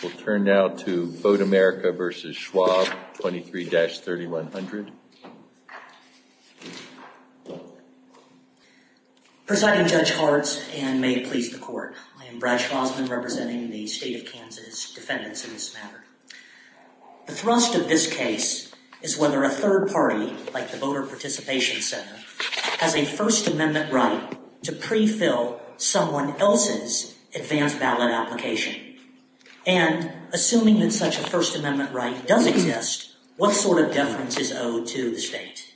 23-3100. Presiding Judge Hartz, and may it please the Court, I am Brad Schrosman, representing the State of Kansas Defendants in this matter. The thrust of this case is whether a third party, like the Voter Participation Center, has a First Amendment right to pre-fill someone else's advanced ballot application. And, assuming that such a First Amendment right does exist, what sort of deference is owed to the State?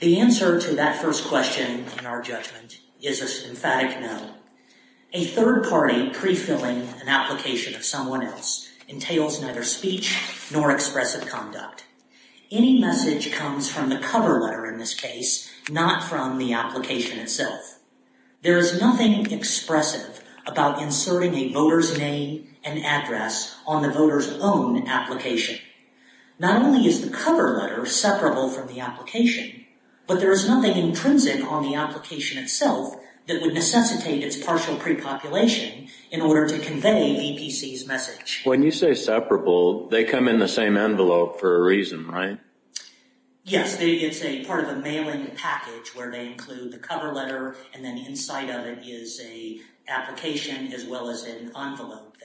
The answer to that first question, in our judgment, is a symphatic no. A third party pre-filling an application of someone else entails neither speech nor expressive conduct. Any message comes from the cover letter in this case, not from the application itself. There is nothing expressive about inserting a voter's name and address on the voter's own application. Not only is the cover letter separable from the application, but there is nothing intrinsic on the application itself that would necessitate its partial pre-population in order to convey VPC's message. When you say separable, they come in the same envelope for a reason, right? Yes. It's part of a mailing package where they include the cover letter and then inside of it is an application as well as an envelope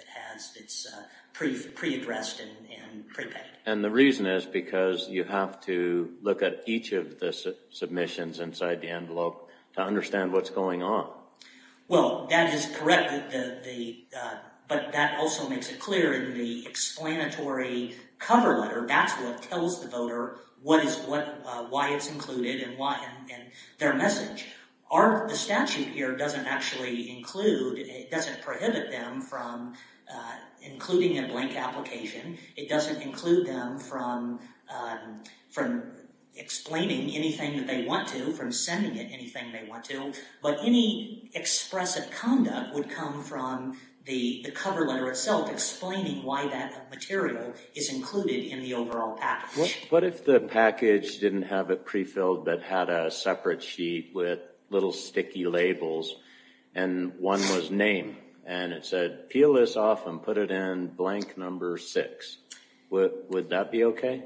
that's pre-addressed and prepaid. And the reason is because you have to look at each of the submissions inside the envelope to understand what's going on. Well, that is correct. But that also makes it clear in the explanatory cover letter, that's what tells the voter why it's included and their message. The statute here doesn't actually include, it doesn't prohibit them from including a blank application. It doesn't include them from explaining anything that they want to, from sending it anything they want to. But any expressive conduct would come from the cover letter itself explaining why that material is included in the overall package. What if the package didn't have it pre-filled but had a separate sheet with little sticky labels, and one was name. And it said, peel this off and put it in blank number six. Would that be okay?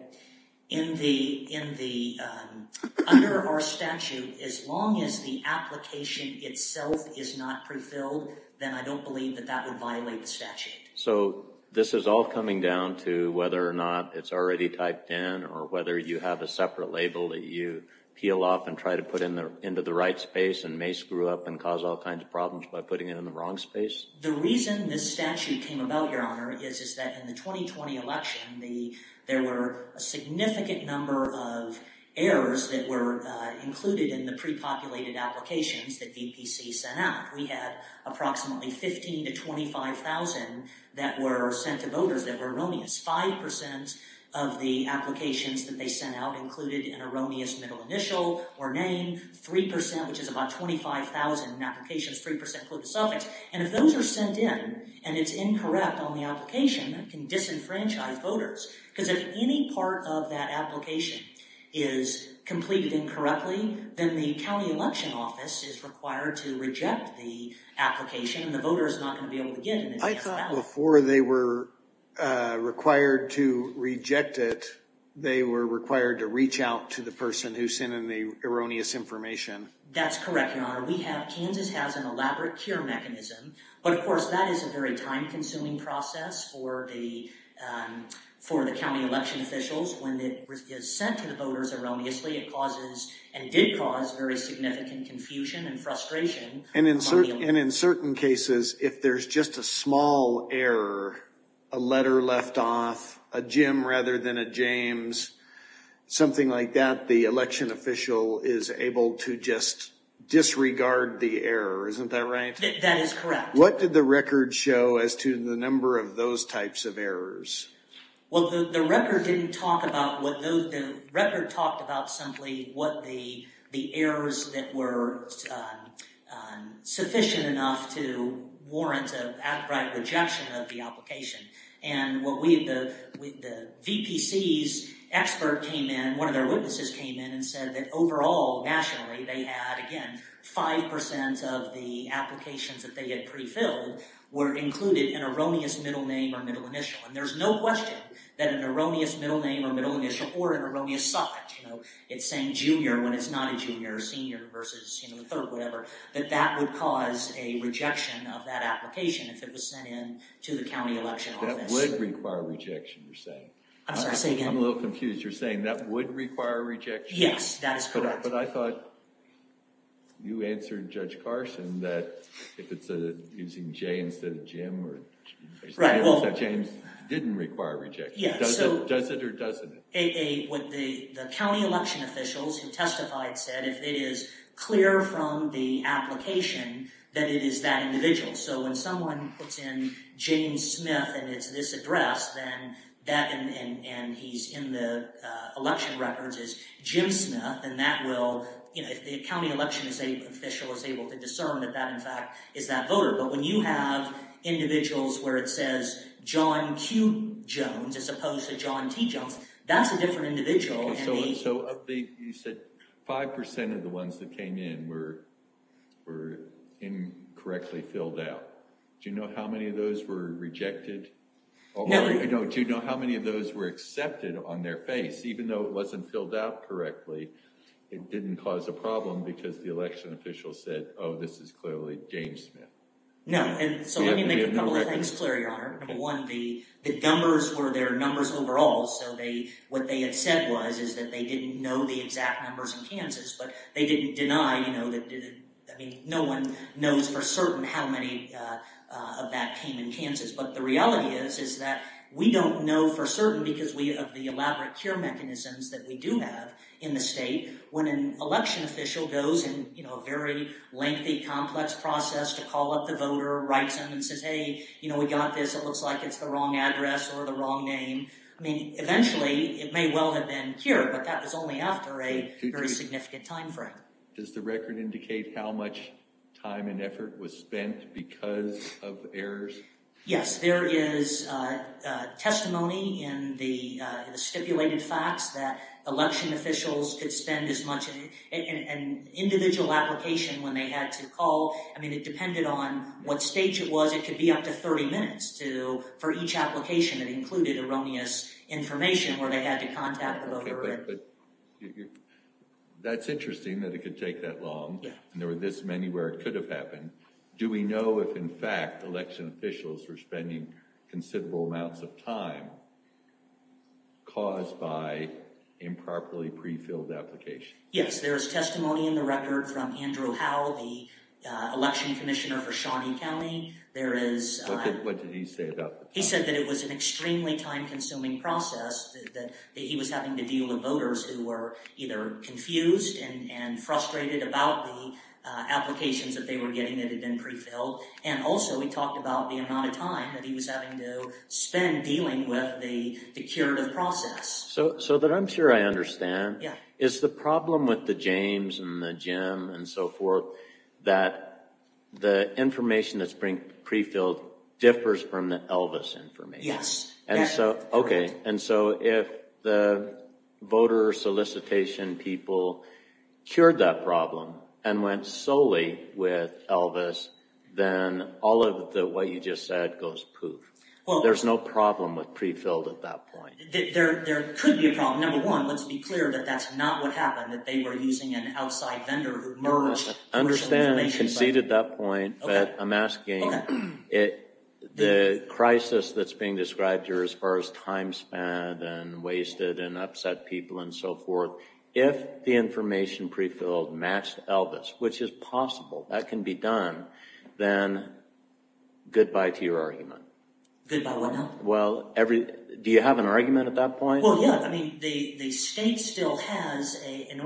Well, under our statute, as long as the application itself is not pre-filled, then I don't believe that that would violate the statute. So, this is all coming down to whether or not it's already typed in or whether you have a separate label that you peel off and try to put into the right space and may screw up and cause all kinds of problems by putting it in the wrong space? The reason this statute came about, Your Honor, is that in the 2020 election, there were a significant number of errors that were included in the pre-populated applications that DPC sent out. We had approximately 15,000 to 25,000 that were sent to voters that were erroneous. Five percent of the applications that they sent out included an erroneous middle initial or name. Three percent, which is about 25,000 in applications, three percent include the suffix. And if those are sent in and it's incorrect on the application, that can disenfranchise voters. Because if any part of that application is completed incorrectly, then the county election office is required to reject the application and the voter is not going to be able to get it. I thought before they were required to reject it, they were required to reach out to the person who sent in the erroneous information. That's correct, Your Honor. Kansas has an elaborate cure mechanism, but of course that is a very time-consuming process for the county election officials. When it is sent to the voters erroneously, it causes, and did cause, very significant confusion and frustration. And in certain cases, if there's just a small error, a letter left off, a Jim rather than a James, something like that, the election official is able to just disregard the error. Isn't that right? That is correct. What did the record show as to the number of those types of errors? Well, the record didn't talk about what those, the record talked about simply what the errors that were sufficient enough to warrant an outright rejection of the application. And what we, the VPC's expert came in, one of their witnesses came in, and said that overall, nationally, they had, again, 5% of the applications that they had pre-filled were included in an erroneous middle name or middle initial. And there's no question that an erroneous middle name or middle initial, or an erroneous suffix, you know, it's saying junior when it's not a junior, senior versus, you know, third, whatever, that that would cause a rejection of that application if it was sent in to the county election office. That would require a rejection, you're saying? I'm sorry, say again? I'm a little confused. You're saying that would require a rejection? Yes, that is correct. But I thought you answered Judge Carson that if it's using a J instead of Jim, so James didn't require a rejection. Does it or doesn't it? What the county election officials who testified said, if it is clear from the application that it is that individual. So when someone puts in James Smith and it's this address, then that, and he's in the election records, is Jim Smith, and that will, you know, if the county election official is able to discern that that, in fact, is that voter. But when you have individuals where it says John Q. Jones as opposed to John T. Jones, that's a different individual. So you said 5% of the ones that came in were incorrectly filled out. Do you know how many of those were rejected? No. Do you know how many of those were accepted on their face? Even though it wasn't filled out correctly, it didn't cause a problem because the election official said, oh, this is clearly James Smith. One, the numbers were their numbers overall, so they, what they had said was is that they didn't know the exact numbers in Kansas, but they didn't deny, you know, that, I mean, no one knows for certain how many of that came in Kansas. But the reality is, is that we don't know for certain because we, of the elaborate care mechanisms that we do have in the state, when an election official goes and, you know, a very lengthy, complex process to call up the voter, writes them and says, hey, you know, we got this, it looks like it's the wrong address or the wrong name. I mean, eventually it may well have been cured, but that was only after a very significant time frame. Does the record indicate how much time and effort was spent because of errors? Yes. There is testimony in the stipulated facts that election officials could spend as much in an individual application when they had to call. I mean, it depended on what stage it was. It could be up to 30 minutes to, for each application that included erroneous information where they had to contact the voter. Okay, but that's interesting that it could take that long and there were this many where it could have happened. Do we know if, in fact, election officials were spending considerable amounts of time caused by improperly pre-filled applications? Yes. There is testimony in the record from Andrew Howell, the election commissioner for Shawnee County. There is... What did he say about this? He said that it was an extremely time-consuming process, that he was having to deal with voters who were either confused and frustrated about the applications that they were getting that had been pre-filled. And also, he talked about the amount of time that he was having to spend dealing with the curative process. So, that I'm sure I understand, is the problem with the James and the Jim and so forth that the information that's pre-filled differs from the Elvis information. Yes. Okay, and so if the voter solicitation people cured that problem and went solely with Elvis, then all of the what you just said goes poof. There's no problem with pre-filled at that point. There could be a problem. Number one, let's be clear that that's not what happened, that they were using an outside vendor who merged commercial information. I understand and concede at that point. But I'm asking, the crisis that's being described here as far as time spent and wasted and upset people and so forth, if the information pre-filled matched Elvis, which is possible, that can be done, then goodbye to your argument. Goodbye what now? Well, do you have an argument at that point? Well, yeah. The state still has, in the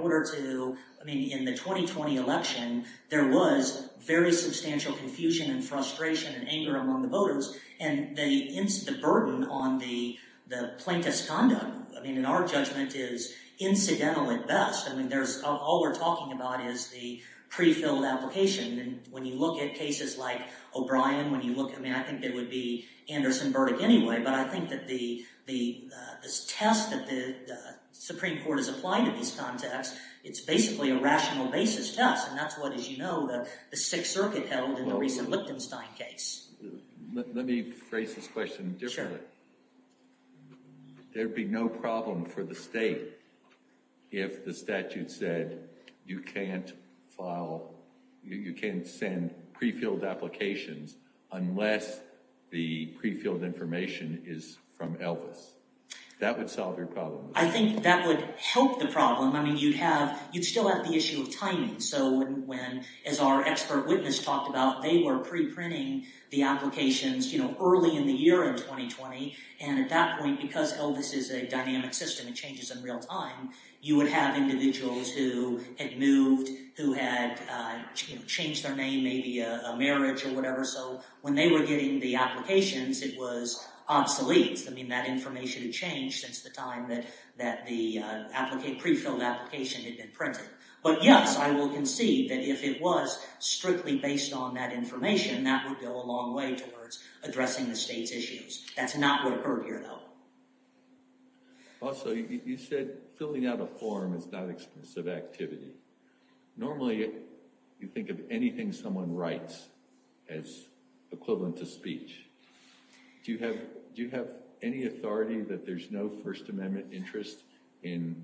2020 election, there was very substantial confusion and frustration and anger among the voters. And the burden on the plaintiff's conduct, in our judgment, is incidental at best. All we're talking about is the pre-filled application. And when you look at cases like O'Brien, I think it would be Anderson-Burdick anyway, but I think that this test that the Supreme Court has applied in this context, it's basically a rational basis test. And that's what, as you know, the Sixth Circuit held in the recent Liptenstein case. Let me phrase this question differently. Sure. There would be no problem for the state if the statute said you can't file, you can't send pre-filled applications unless the pre-filled information is from Elvis. That would solve your problem. I think that would help the problem. I mean, you'd have, you'd still have the issue of timing. So when, as our expert witness talked about, they were pre-printing the applications, you know, early in the year in 2020. And at that point, because Elvis is a dynamic system, it changes in real time, you would have individuals who had moved, who had changed their name, maybe a marriage or whatever. So when they were getting the applications, it was obsolete. I mean, that information had changed since the time that the pre-filled application had been printed. But yes, I will concede that if it was strictly based on that information, that would go a long way towards addressing the state's issues. That's not what occurred here, though. Also, you said filling out a form is not expensive activity. Normally, you think of anything someone writes as equivalent to speech. Do you have, do you have any authority that there's no First Amendment interest in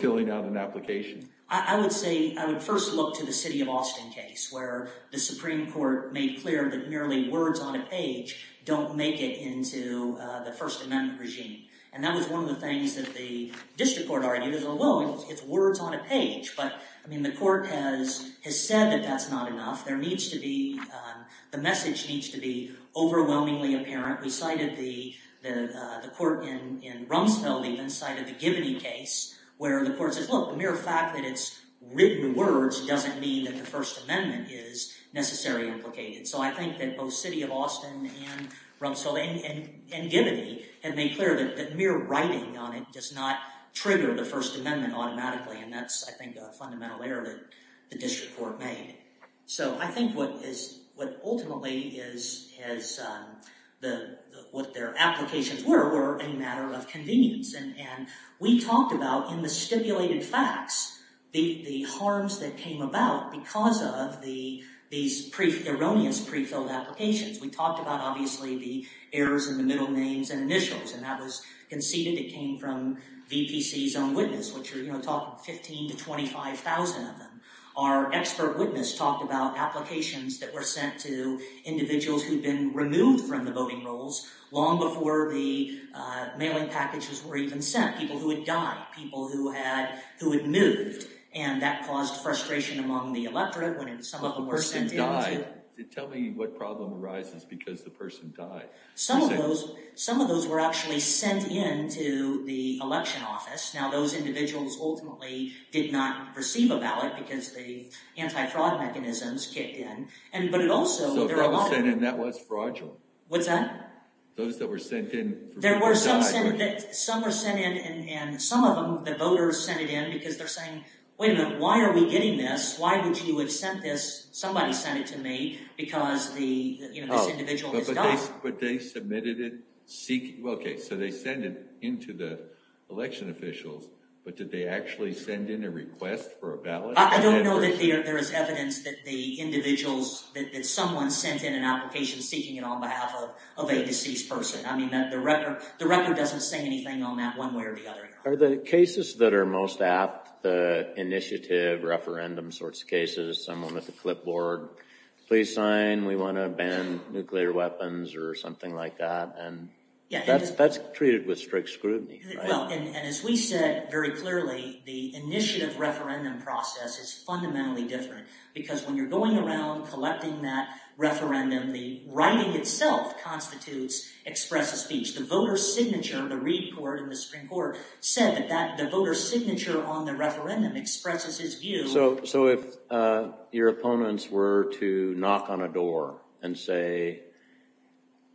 filling out an application? I would say, I would first look to the city of Austin case where the Supreme Court made clear that merely words on a page don't make it into the First Amendment regime. And that was one of the things that the district court argued is, well, it's words on a page. But, I mean, the court has said that that's not enough. There needs to be, the message needs to be overwhelmingly apparent. We cited the court in Rumsfeld even cited the Gibney case where the court says, look, the mere fact that it's written words doesn't mean that the First Amendment is necessarily implicated. So, I think that both city of Austin and Rumsfeld and Gibney have made clear that mere writing on it does not trigger the First Amendment automatically. And that's, I think, a fundamental error that the district court made. So, I think what is, what ultimately is, has the, what their applications were, were a matter of convenience. And we talked about in the stipulated facts the harms that came about because of the, these erroneous prefilled applications. We talked about, obviously, the errors in the middle names and initials. And that was conceded. It came from VPC's own witness, which are, you know, talking 15 to 25,000 of them. Our expert witness talked about applications that were sent to individuals who'd been removed from the voting rolls long before the mailing packages were even sent. People who had died. People who had, who had moved. And that caused frustration among the electorate when some of them were sent in. But the person died. Tell me what problem arises because the person died. Some of those, some of those were actually sent in to the election office. Now, those individuals ultimately did not receive a ballot because the anti-fraud mechanisms kicked in. And, but it also, there are a lot of. So, those sent in, that was fraudulent? What's that? Those that were sent in. There were some sent in, some were sent in, and some of them, the voters sent it in because they're saying, wait a minute, why are we getting this? Why would you have sent this, somebody sent it to me, because the, you know, this individual has died. But they submitted it seeking, well, okay, so they sent it in to the election officials, but did they actually send in a request for a ballot? I don't know that there is evidence that the individuals, that someone sent in an application seeking it on behalf of a deceased person. I mean, the record doesn't say anything on that one way or the other. Are the cases that are most apt, the initiative, referendum sorts of cases, someone with a clipboard, please sign, we want to ban nuclear weapons or something like that, and that's treated with strict scrutiny, right? Well, and as we said very clearly, the initiative referendum process is fundamentally different because when you're going around collecting that referendum, the writing itself constitutes expressive speech. The voter's signature, the report in the Supreme Court said that the voter's signature on the referendum expresses his view. So if your opponents were to knock on a door and say,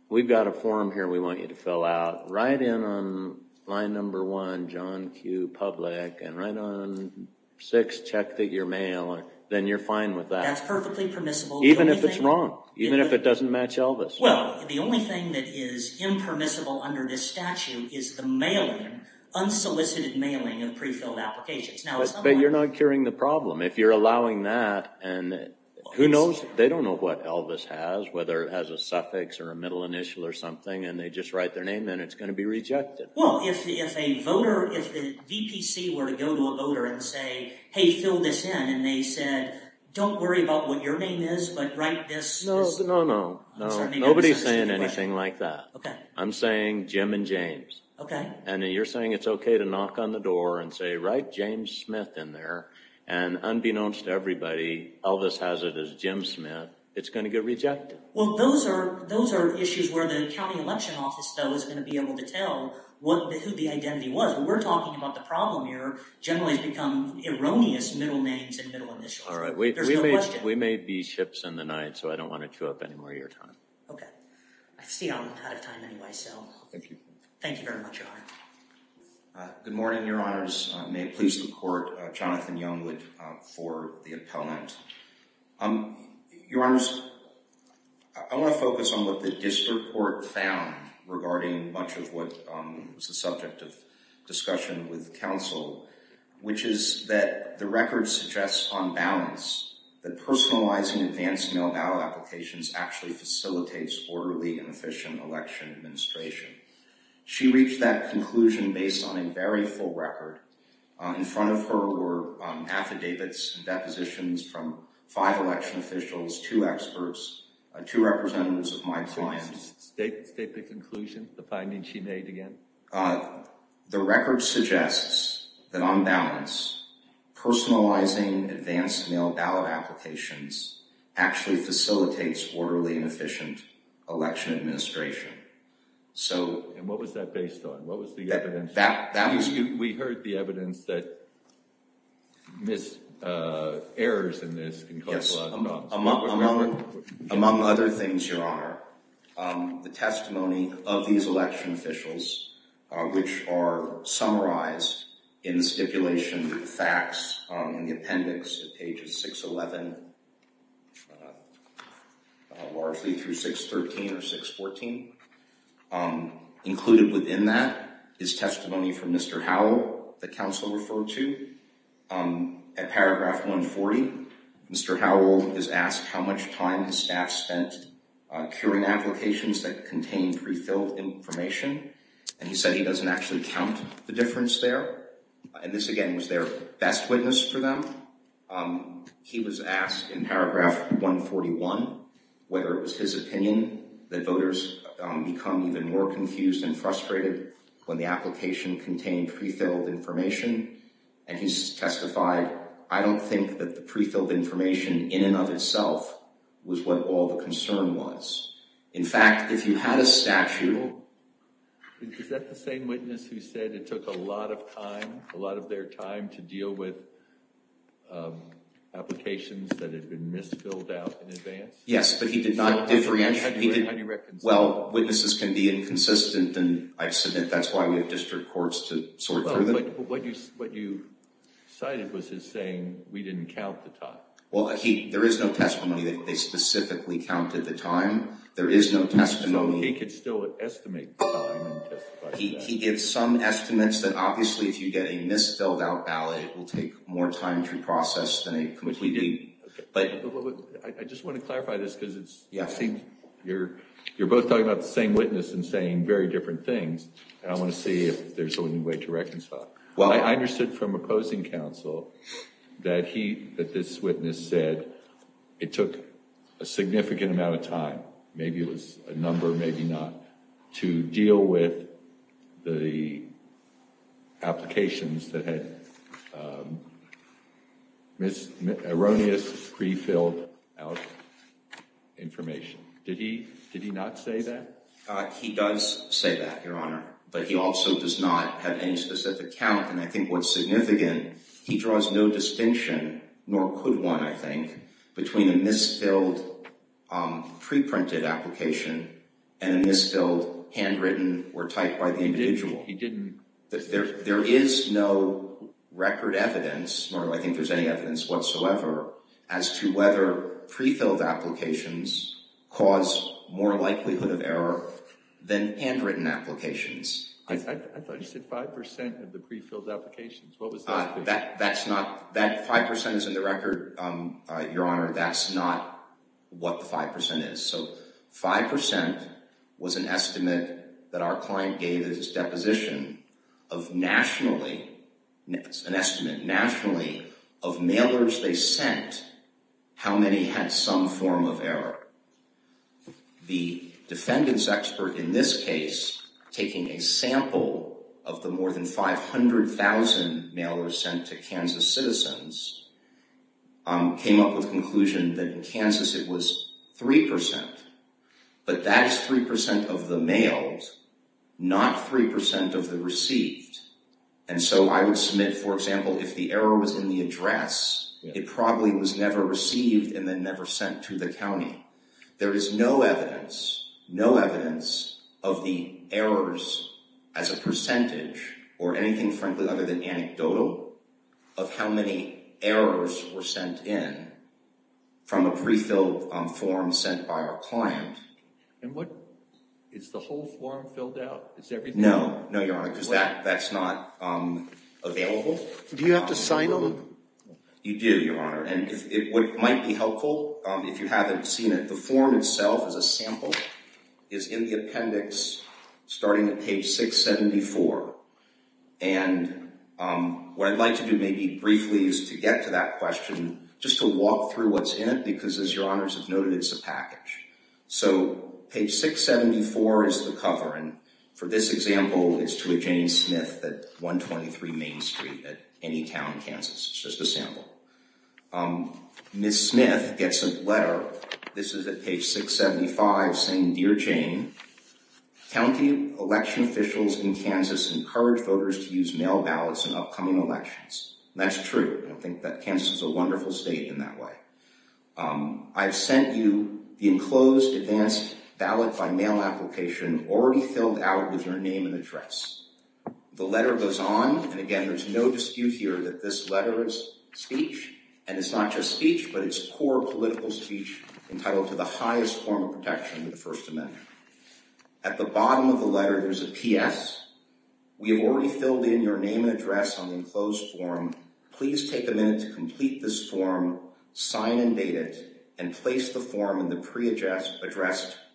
we've got a form here we want you to fill out, write in on line number one, John Q. Public, and write on six, check that you're male, then you're fine with that. That's perfectly permissible. Even if it's wrong. Even if it doesn't match Elvis. Well, the only thing that is impermissible under this statute is the mailing, unsolicited mailing of prefilled applications. But you're not curing the problem. If you're allowing that, and who knows? They don't know what Elvis has, whether it has a suffix or a middle initial or something, and they just write their name, then it's going to be rejected. Well, if a voter, if the VPC were to go to a voter and say, hey, fill this in, and they said, don't worry about what your name is, but write this. No, no, no. Nobody's saying anything like that. Okay. I'm saying Jim and James. Okay. And you're saying it's okay to knock on the door and say, write James Smith in there, and unbeknownst to everybody, Elvis has it as Jim Smith, it's going to get rejected. Well, those are issues where the county election office, though, is going to be able to tell who the identity was. We're talking about the problem here generally has become erroneous middle names and middle initials. There's no question. Judge, we may be chips in the night, so I don't want to chew up any more of your time. Okay. I see I'm out of time anyway, so. Thank you. Thank you very much, Your Honor. Good morning, Your Honors. May it please the Court, Jonathan Youngwood for the appellant. Your Honors, I want to focus on what the district court found regarding much of what was the subject of discussion with counsel, which is that the record suggests on balance that personalizing advanced mail ballot applications actually facilitates orderly and efficient election administration. She reached that conclusion based on a very full record. In front of her were affidavits and depositions from five election officials, two experts, two representatives of my clients. State the conclusion, the finding she made again. The record suggests that on balance, personalizing advanced mail ballot applications actually facilitates orderly and efficient election administration. And what was that based on? What was the evidence? We heard the evidence that errors in this can cause a lot of problems. Among other things, Your Honor, the testimony of these election officials, which are summarized in the stipulation facts in the appendix at page 611, largely through 613 or 614, included within that is testimony from Mr. Howell that counsel referred to. At paragraph 140, Mr. Howell is asked how much time his staff spent curing applications that contained prefilled information. And he said he doesn't actually count the difference there. And this, again, was their best witness for them. He was asked in paragraph 141 whether it was his opinion that voters become even more confused and frustrated when the application contained prefilled information. And he testified, I don't think that the prefilled information in and of itself was what all the concern was. In fact, if you had a statute... Is that the same witness who said it took a lot of time, a lot of their time, to deal with applications that had been misfilled out in advance? Yes, but he did not differentiate. Well, witnesses can be inconsistent, and I submit that's why we have district courts to sort through them. But what you cited was his saying, we didn't count the time. Well, there is no testimony that they specifically counted the time. There is no testimony... So he could still estimate the time and testify to that. He did some estimates that, obviously, if you get a misfilled out ballot, it will take more time to process than a completely... But I just want to clarify this because it's... Yes. You're both talking about the same witness and saying very different things, and I want to see if there's a way to reconcile. I understood from opposing counsel that this witness said it took a significant amount of time, maybe it was a number, maybe not, to deal with the applications that had erroneously prefilled out information. Did he not say that? He does say that, Your Honor, but he also does not have any specific count, and I think what's significant, he draws no distinction, nor could one, I think, between a misfilled preprinted application and a misfilled handwritten or typed by the individual. He didn't... There is no record evidence, nor I think there's any evidence whatsoever, as to whether prefilled applications cause more likelihood of error than handwritten applications. I thought you said 5% of the prefilled applications. What was that? That's not... That 5% is in the record, Your Honor. That's not what the 5% is. So, 5% was an estimate that our client gave at his deposition of nationally, an estimate nationally of mailers they sent, how many had some form of error. The defendant's expert in this case, taking a sample of the more than 500,000 mailers sent to Kansas citizens, came up with the conclusion that in Kansas it was 3%, but that is 3% of the mailed, not 3% of the received. And so, I would submit, for example, if the error was in the address, it probably was never received and then never sent to the county. There is no evidence, no evidence of the errors as a percentage, or anything frankly other than anecdotal, of how many errors were sent in from a prefilled form sent by our client. And what... Is the whole form filled out? Is everything... No, no, Your Honor, because that's not available. Do you have to sign them? You do, Your Honor. And what might be helpful, if you haven't seen it, the form itself is a sample, is in the appendix starting at page 674. And what I'd like to do maybe briefly is to get to that question, just to walk through what's in it, because as Your Honors have noted, it's a package. So, page 674 is the cover. And for this example, it's to a Jane Smith at 123 Main Street at Anytown, Kansas. It's just a sample. Ms. Smith gets a letter. This is at page 675 saying, Dear Jane, County election officials in Kansas encourage voters to use mail ballots in upcoming elections. And that's true. I think that Kansas is a wonderful state in that way. I've sent you the enclosed advanced ballot-by-mail application already filled out with your name and address. The letter goes on, and again, there's no dispute here that this letter is speech. And it's not just speech, but it's core political speech entitled to the highest form of protection of the First Amendment. At the bottom of the letter, there's a P.S. We have already filled in your name and address on the enclosed form. Please take a minute to complete this form, sign and date it, and place the form in the pre-addressed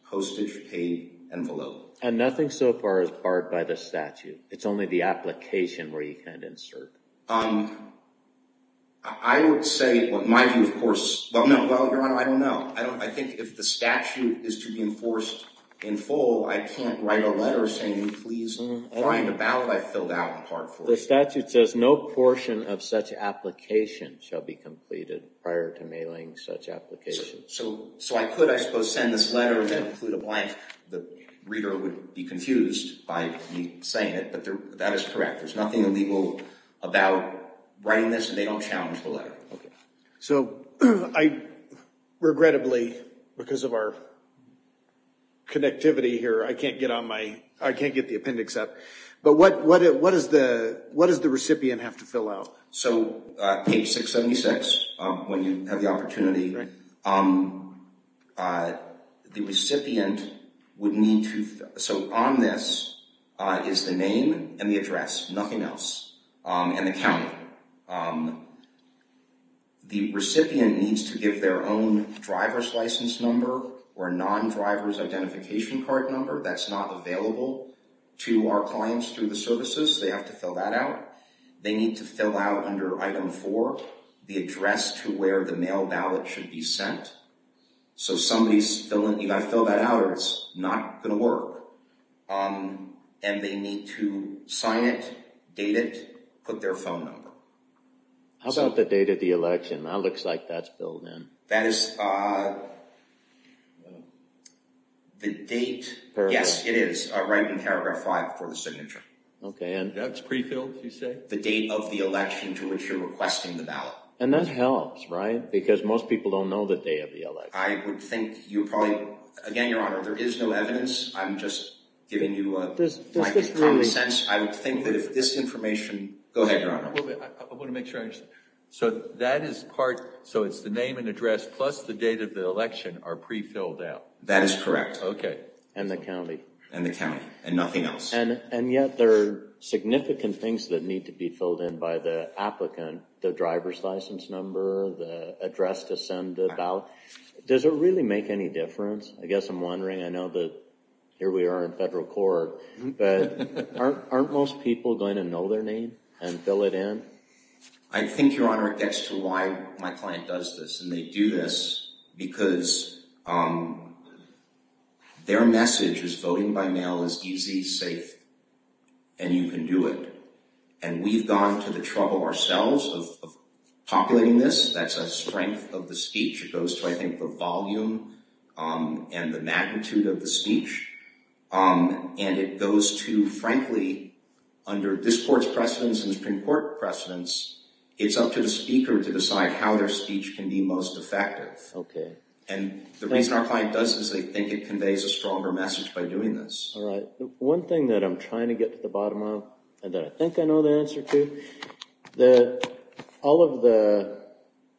postage-paid envelope. And nothing so far is barred by the statute. It's only the application where you can't insert. I would say, in my view, of course, well, Your Honor, I don't know. I think if the statute is to be enforced in full, I can't write a letter saying, please find a ballot I filled out in part 4. The statute says no portion of such application shall be completed prior to mailing such application. So I could, I suppose, send this letter and then include a blank. The reader would be confused by me saying it, but that is correct. There's nothing illegal about writing this, and they don't challenge the letter. So I, regrettably, because of our connectivity here, I can't get the appendix up. But what does the recipient have to fill out? So, page 676, when you have the opportunity, the recipient would need to, so on this is the name and the address, nothing else, and the county. The recipient needs to give their own driver's license number or non-driver's identification card number. That's not available to our clients through the services. They have to fill that out. They need to fill out, under item 4, the address to where the mail ballot should be sent. So somebody's filling, you've got to fill that out or it's not going to work. And they need to sign it, date it, put their phone number. How about the date of the election? That looks like that's built in. That is the date, yes it is, right in paragraph 5 for the signature. That's prefilled, you say? The date of the election to which you're requesting the ballot. And that helps, right? Because most people don't know the day of the election. I would think you probably, again, Your Honor, there is no evidence. I'm just giving you my common sense. I would think that if this information, go ahead, Your Honor. I want to make sure I understand. So that is part, so it's the name and address plus the date of the election are prefilled out. That is correct. And the county. And the county, and nothing else. And yet there are significant things that need to be filled in by the applicant. The driver's license number, the address to send the ballot. Does it really make any difference? I guess I'm wondering, I know that here we are in federal court, but aren't most people going to know their name and fill it in? I think, Your Honor, it gets to why my client does this. And they do this because their message is voting by mail is easy, safe, and you can do it. And we've gone to the trouble ourselves of populating this. That's a strength of the speech. It goes to, I think, the volume and the magnitude of the speech. And it goes to, frankly, under this court's precedence and the Supreme Court precedence, it's up to the speaker to decide how their speech can be most effective. Okay. And the reason our client does this is they think it conveys a stronger message by doing this. All right. One thing that I'm trying to get to the bottom of, and that I think I know the answer to, all of the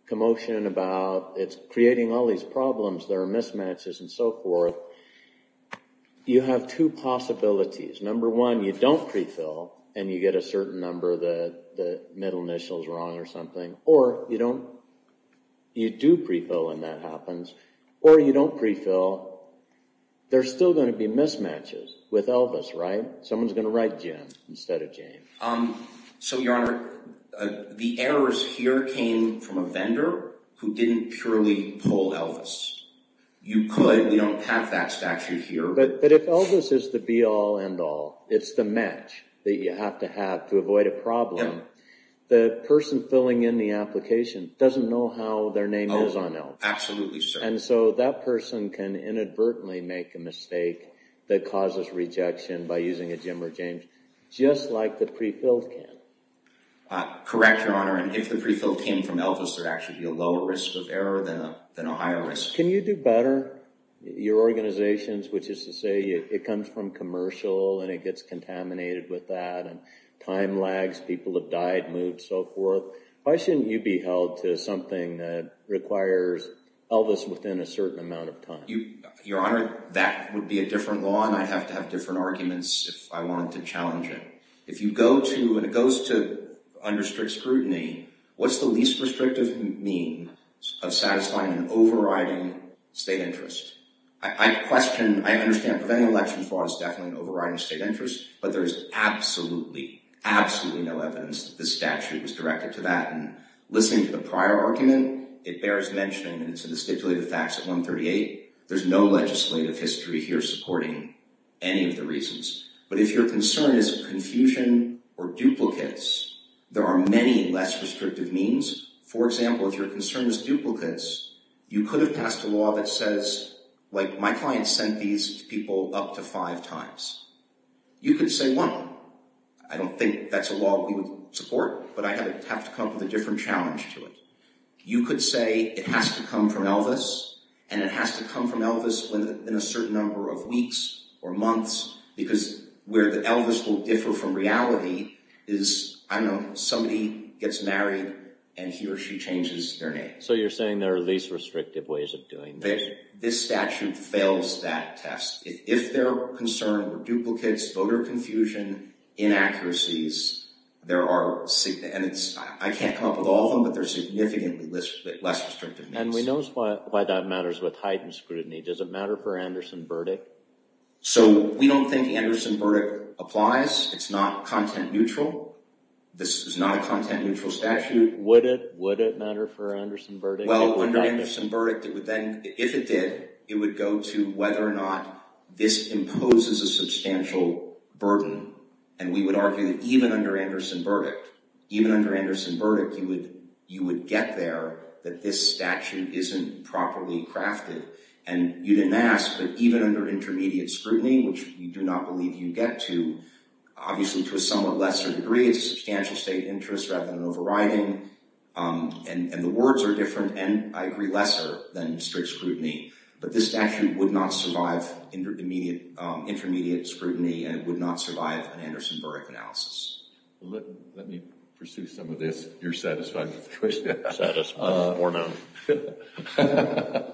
commotion about it's creating all these problems, there are mismatches and so forth, you have two possibilities. Number one, you don't pre-fill and you get a certain number of the middle initials wrong or something. Or you do pre-fill and that happens. Or you don't pre-fill. There's still going to be mismatches with Elvis, right? Someone's going to write Jim instead of Jane. So, Your Honor, the errors here came from a vendor who didn't purely pull Elvis. You could. We don't have that statute here. But if Elvis is the be-all, end-all, it's the match that you have to have to avoid a problem, the person filling in the application doesn't know how their name is on Elvis. Absolutely, sir. And so that person can inadvertently make a mistake that causes rejection by using a Jim or James, just like the pre-filled can. Correct, Your Honor. If the pre-fill came from Elvis, there'd actually be a lower risk of error than a higher risk. Can you do better? Your organization, which is to say it comes from commercial and it gets contaminated with that, time lags, people have died, moved, so forth. Why shouldn't you be held to something that requires Elvis within a certain amount of time? Your Honor, that would be a different law and I'd have to have different arguments if I wanted to challenge it. If you go to, when it goes to under strict scrutiny, what's the least restrictive mean of satisfying an overriding state interest? I question, I understand preventing election fraud is definitely an overriding state interest, but there is absolutely, absolutely no evidence that this statute was directed to that. Listening to the prior argument, it bears mentioning in the stipulated facts at 138, there's no legislative history here supporting any of the reasons. But if your concern is confusion or duplicates, there are many less restrictive means. For example, if your concern is duplicates, you could have passed a law that says, like my client sent these to people up to five times. You could say, well, I don't think that's a law we would support, but I have to come up with a different challenge to it. You could say it has to come from Elvis and it has to come from Elvis within a certain number of weeks or months, because where the Elvis will differ from reality is, I don't know, somebody gets married and he or she changes their name. So you're saying there are least restrictive ways of doing this? This statute fails that test. If their concern were duplicates, voter confusion, inaccuracies, there are, and I can't come up with all of them, but there are significantly less restrictive means. And we know why that matters with heightened scrutiny. Does it matter for Anderson-Burdick? So we don't think Anderson-Burdick applies. It's not content neutral. This is not a content neutral statute. Would it matter for Anderson-Burdick? Well, under Anderson-Burdick, if it did, it would go to whether or not this imposes a substantial burden. And we would argue that even under Anderson-Burdick, even under Anderson-Burdick, you would get there that this statute isn't properly crafted. And you didn't ask, but even under intermediate scrutiny, which we do not believe you get to, obviously to a somewhat lesser degree, it's a substantial state interest rather than overriding. And the words are different and, I agree, lesser than strict scrutiny. But this statute would not survive intermediate scrutiny and it would not survive an Anderson-Burdick analysis. Let me pursue some of this. You're satisfied with the question? Satisfied with the forenum.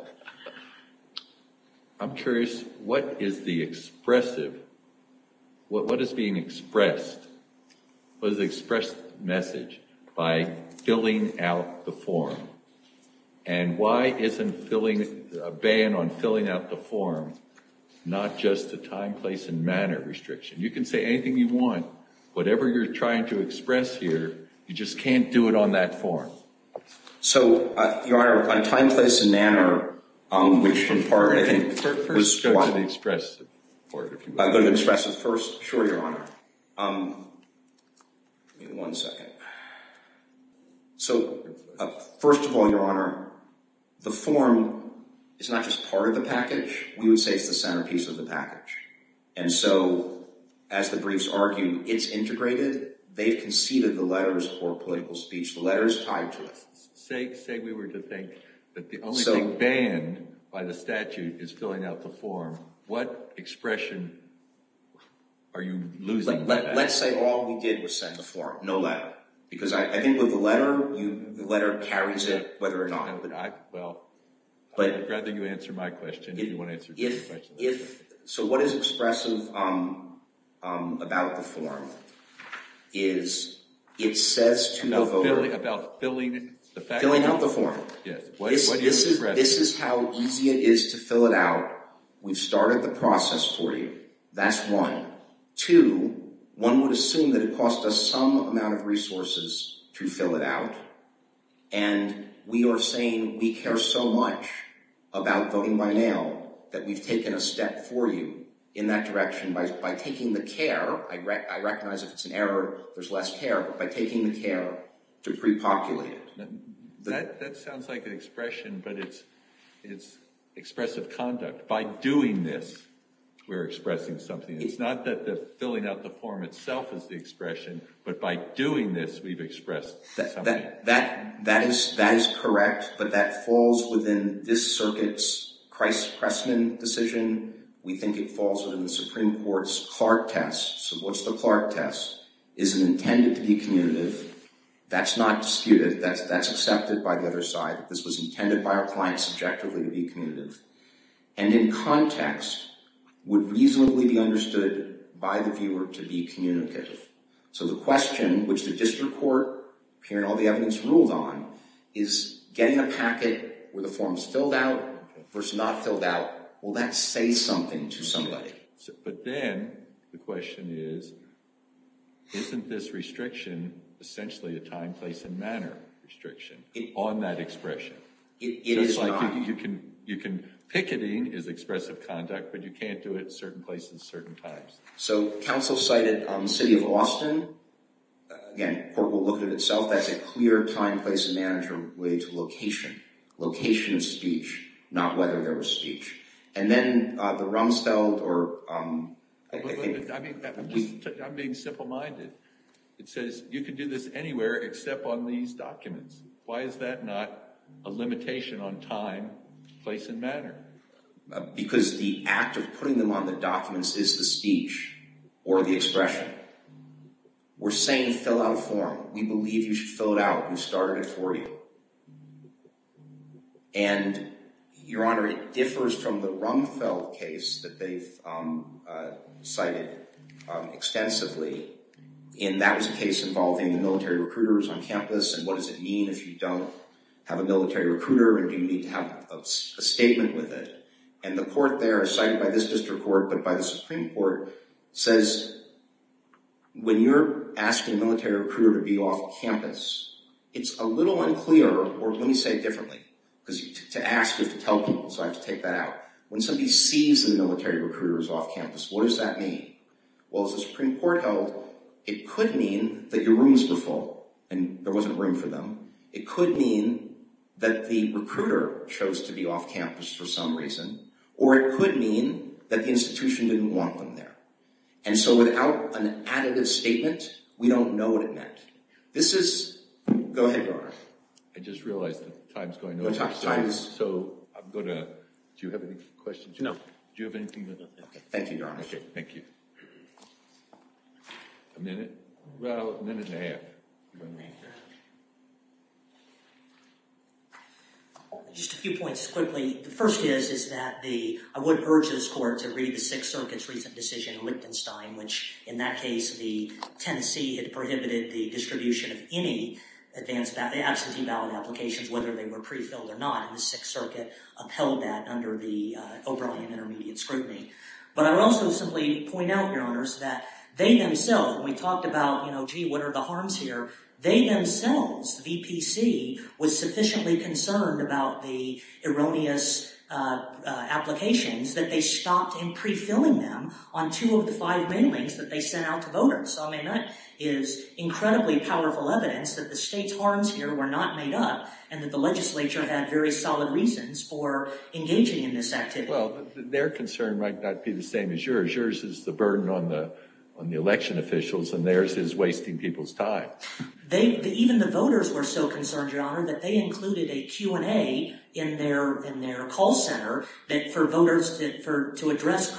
I'm curious, what is the expressive, what is being expressed, what is the expressed message by filling out the form? And why isn't a ban on filling out the form not just a time, place, and manner restriction? You can say anything you want, whatever you're trying to express here, you just can't do it on that form. So, Your Honor, on time, place, and manner, which in part, I think, was what? Go to the expressive part. Go to the expressive first? Sure, Your Honor. Give me one second. So, first of all, Your Honor, the form is not just part of the package. We would say it's the centerpiece of the package. And so, as the briefs argue, it's integrated. They've conceded the letters for political speech. The letter is tied to it. Say we were to think that the only thing banned by the statute is filling out the form. What expression are you losing? Let's say all we did was send the form. No letter. Because I think with the letter, the letter carries it whether or not. Well, I'd rather you answer my question if you want to answer this question. So, what is expressive about the form is it says to the voter... About filling out the form. Filling out the form. This is how easy it is to fill it out. We've started the process for you. That's one. Two, one would assume that it cost us some amount of resources to fill it out. And we are saying we care so much about voting by mail that we've taken a step for you in that direction by taking the care. I recognize if it's an error, there's less care. By taking the care to pre-populate it. That sounds like an expression, but it's expressive conduct. By doing this, we're expressing something. It's not that filling out the form itself is the expression, but by doing this, we've expressed something. That is correct, but that falls within this circuit's Christ-Pressman decision. We think it falls within the Supreme Court's Clark test. So, what's the Clark test? Is it intended to be communicative? That's not disputed. That's accepted by the other side. This was intended by our clients objectively to be communicative. And in context, would reasonably be understood by the viewer to be communicative. So the question, which the district court, hearing all the evidence ruled on, is getting a packet where the form's filled out versus not filled out. Will that say something to somebody? But then, the question is, isn't this restriction essentially a time, place, and manner restriction? On that expression. It is not. Just like you can, picketing is expressive conduct, but you can't do it at certain places at certain times. So, counsel cited the city of Austin. Again, court will look at it itself. That's a clear time, place, and manner way to location. Location of speech, not whether there was speech. And then, the Rumsfeld or... I'm being simple-minded. It says, you can do this anywhere except on these documents. Why is that not a limitation on time, place, and manner? Because the act of putting them on the documents is the speech. Or the expression. We're saying, fill out a form. We believe you should fill it out. We started it for you. And, Your Honor, it differs from the Rumsfeld case that they've cited extensively. And that was a case involving the military recruiters on campus. And what does it mean if you don't have a military recruiter? And do you need to have a statement with it? And the court there, cited by this district court, but by the Supreme Court, says, when you're asking a military recruiter to be off campus, it's a little unclear, or let me say it differently, because to ask is to tell people, so I have to take that out. When somebody sees that a military recruiter is off campus, what does that mean? Well, if the Supreme Court held, it could mean that your rooms were full, and there wasn't room for them. It could mean that the recruiter chose to be off campus for some reason. Or it could mean that the institution didn't want them there. And so without an additive statement, we don't know what it meant. This is, go ahead, Your Honor. I just realized that time's going to run out. So I'm going to, do you have any questions? No. Do you have anything? Thank you, Your Honor. Okay, thank you. A minute? Well, a minute and a half. A minute and a half. Just a few points quickly. The first is that the, I would urge this Court to read the Sixth Circuit's recent decision, Lichtenstein, which, in that case, the Tennessee had prohibited the distribution of any advanced, absentee ballot applications, whether they were prefilled or not, and the Sixth Circuit upheld that under the O'Brien Intermediate Scrutiny. But I would also simply point out, Your Honors, that they themselves, when we talked about, you know, gee, what are the harms here, they themselves, the VPC, was sufficiently concerned about the erroneous applications that they stopped in prefilling them on two of the five mailings that they sent out to voters. So, I mean, that is incredibly powerful evidence that the state's harms here were not made up and that the legislature had very solid reasons for engaging in this activity. Well, their concern might not be the same as yours. Yours is the burden on the election officials, and theirs is wasting people's time. Even the voters were so concerned, Your Honor, that they included a Q&A in their call center for voters to address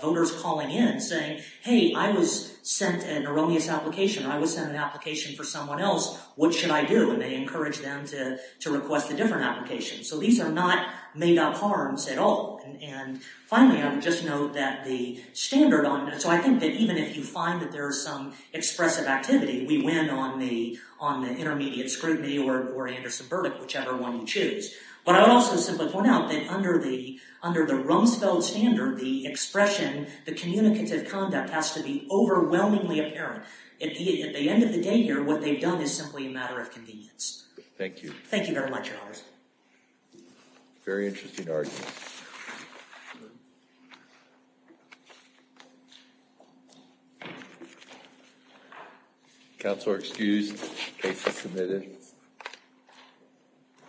voters calling in saying, hey, I was sent an erroneous application, or I was sent an application for someone else, what should I do? And they encouraged them to request a different application. So these are not made-up harms at all. And finally, I would just note that the standard on, so I think that even if you find that there is some expressive activity, we win on the intermediate scrutiny or Anderson verdict, whichever one you choose. But I would also simply point out that under the Rumsfeld standard, the expression, the communicative conduct has to be overwhelmingly apparent. At the end of the day here, what they've done is simply a matter of convenience. Thank you. Thank you, Your Honor. Thank you very much, Your Honor. Very interesting argument. Counsel are excused. Case is submitted.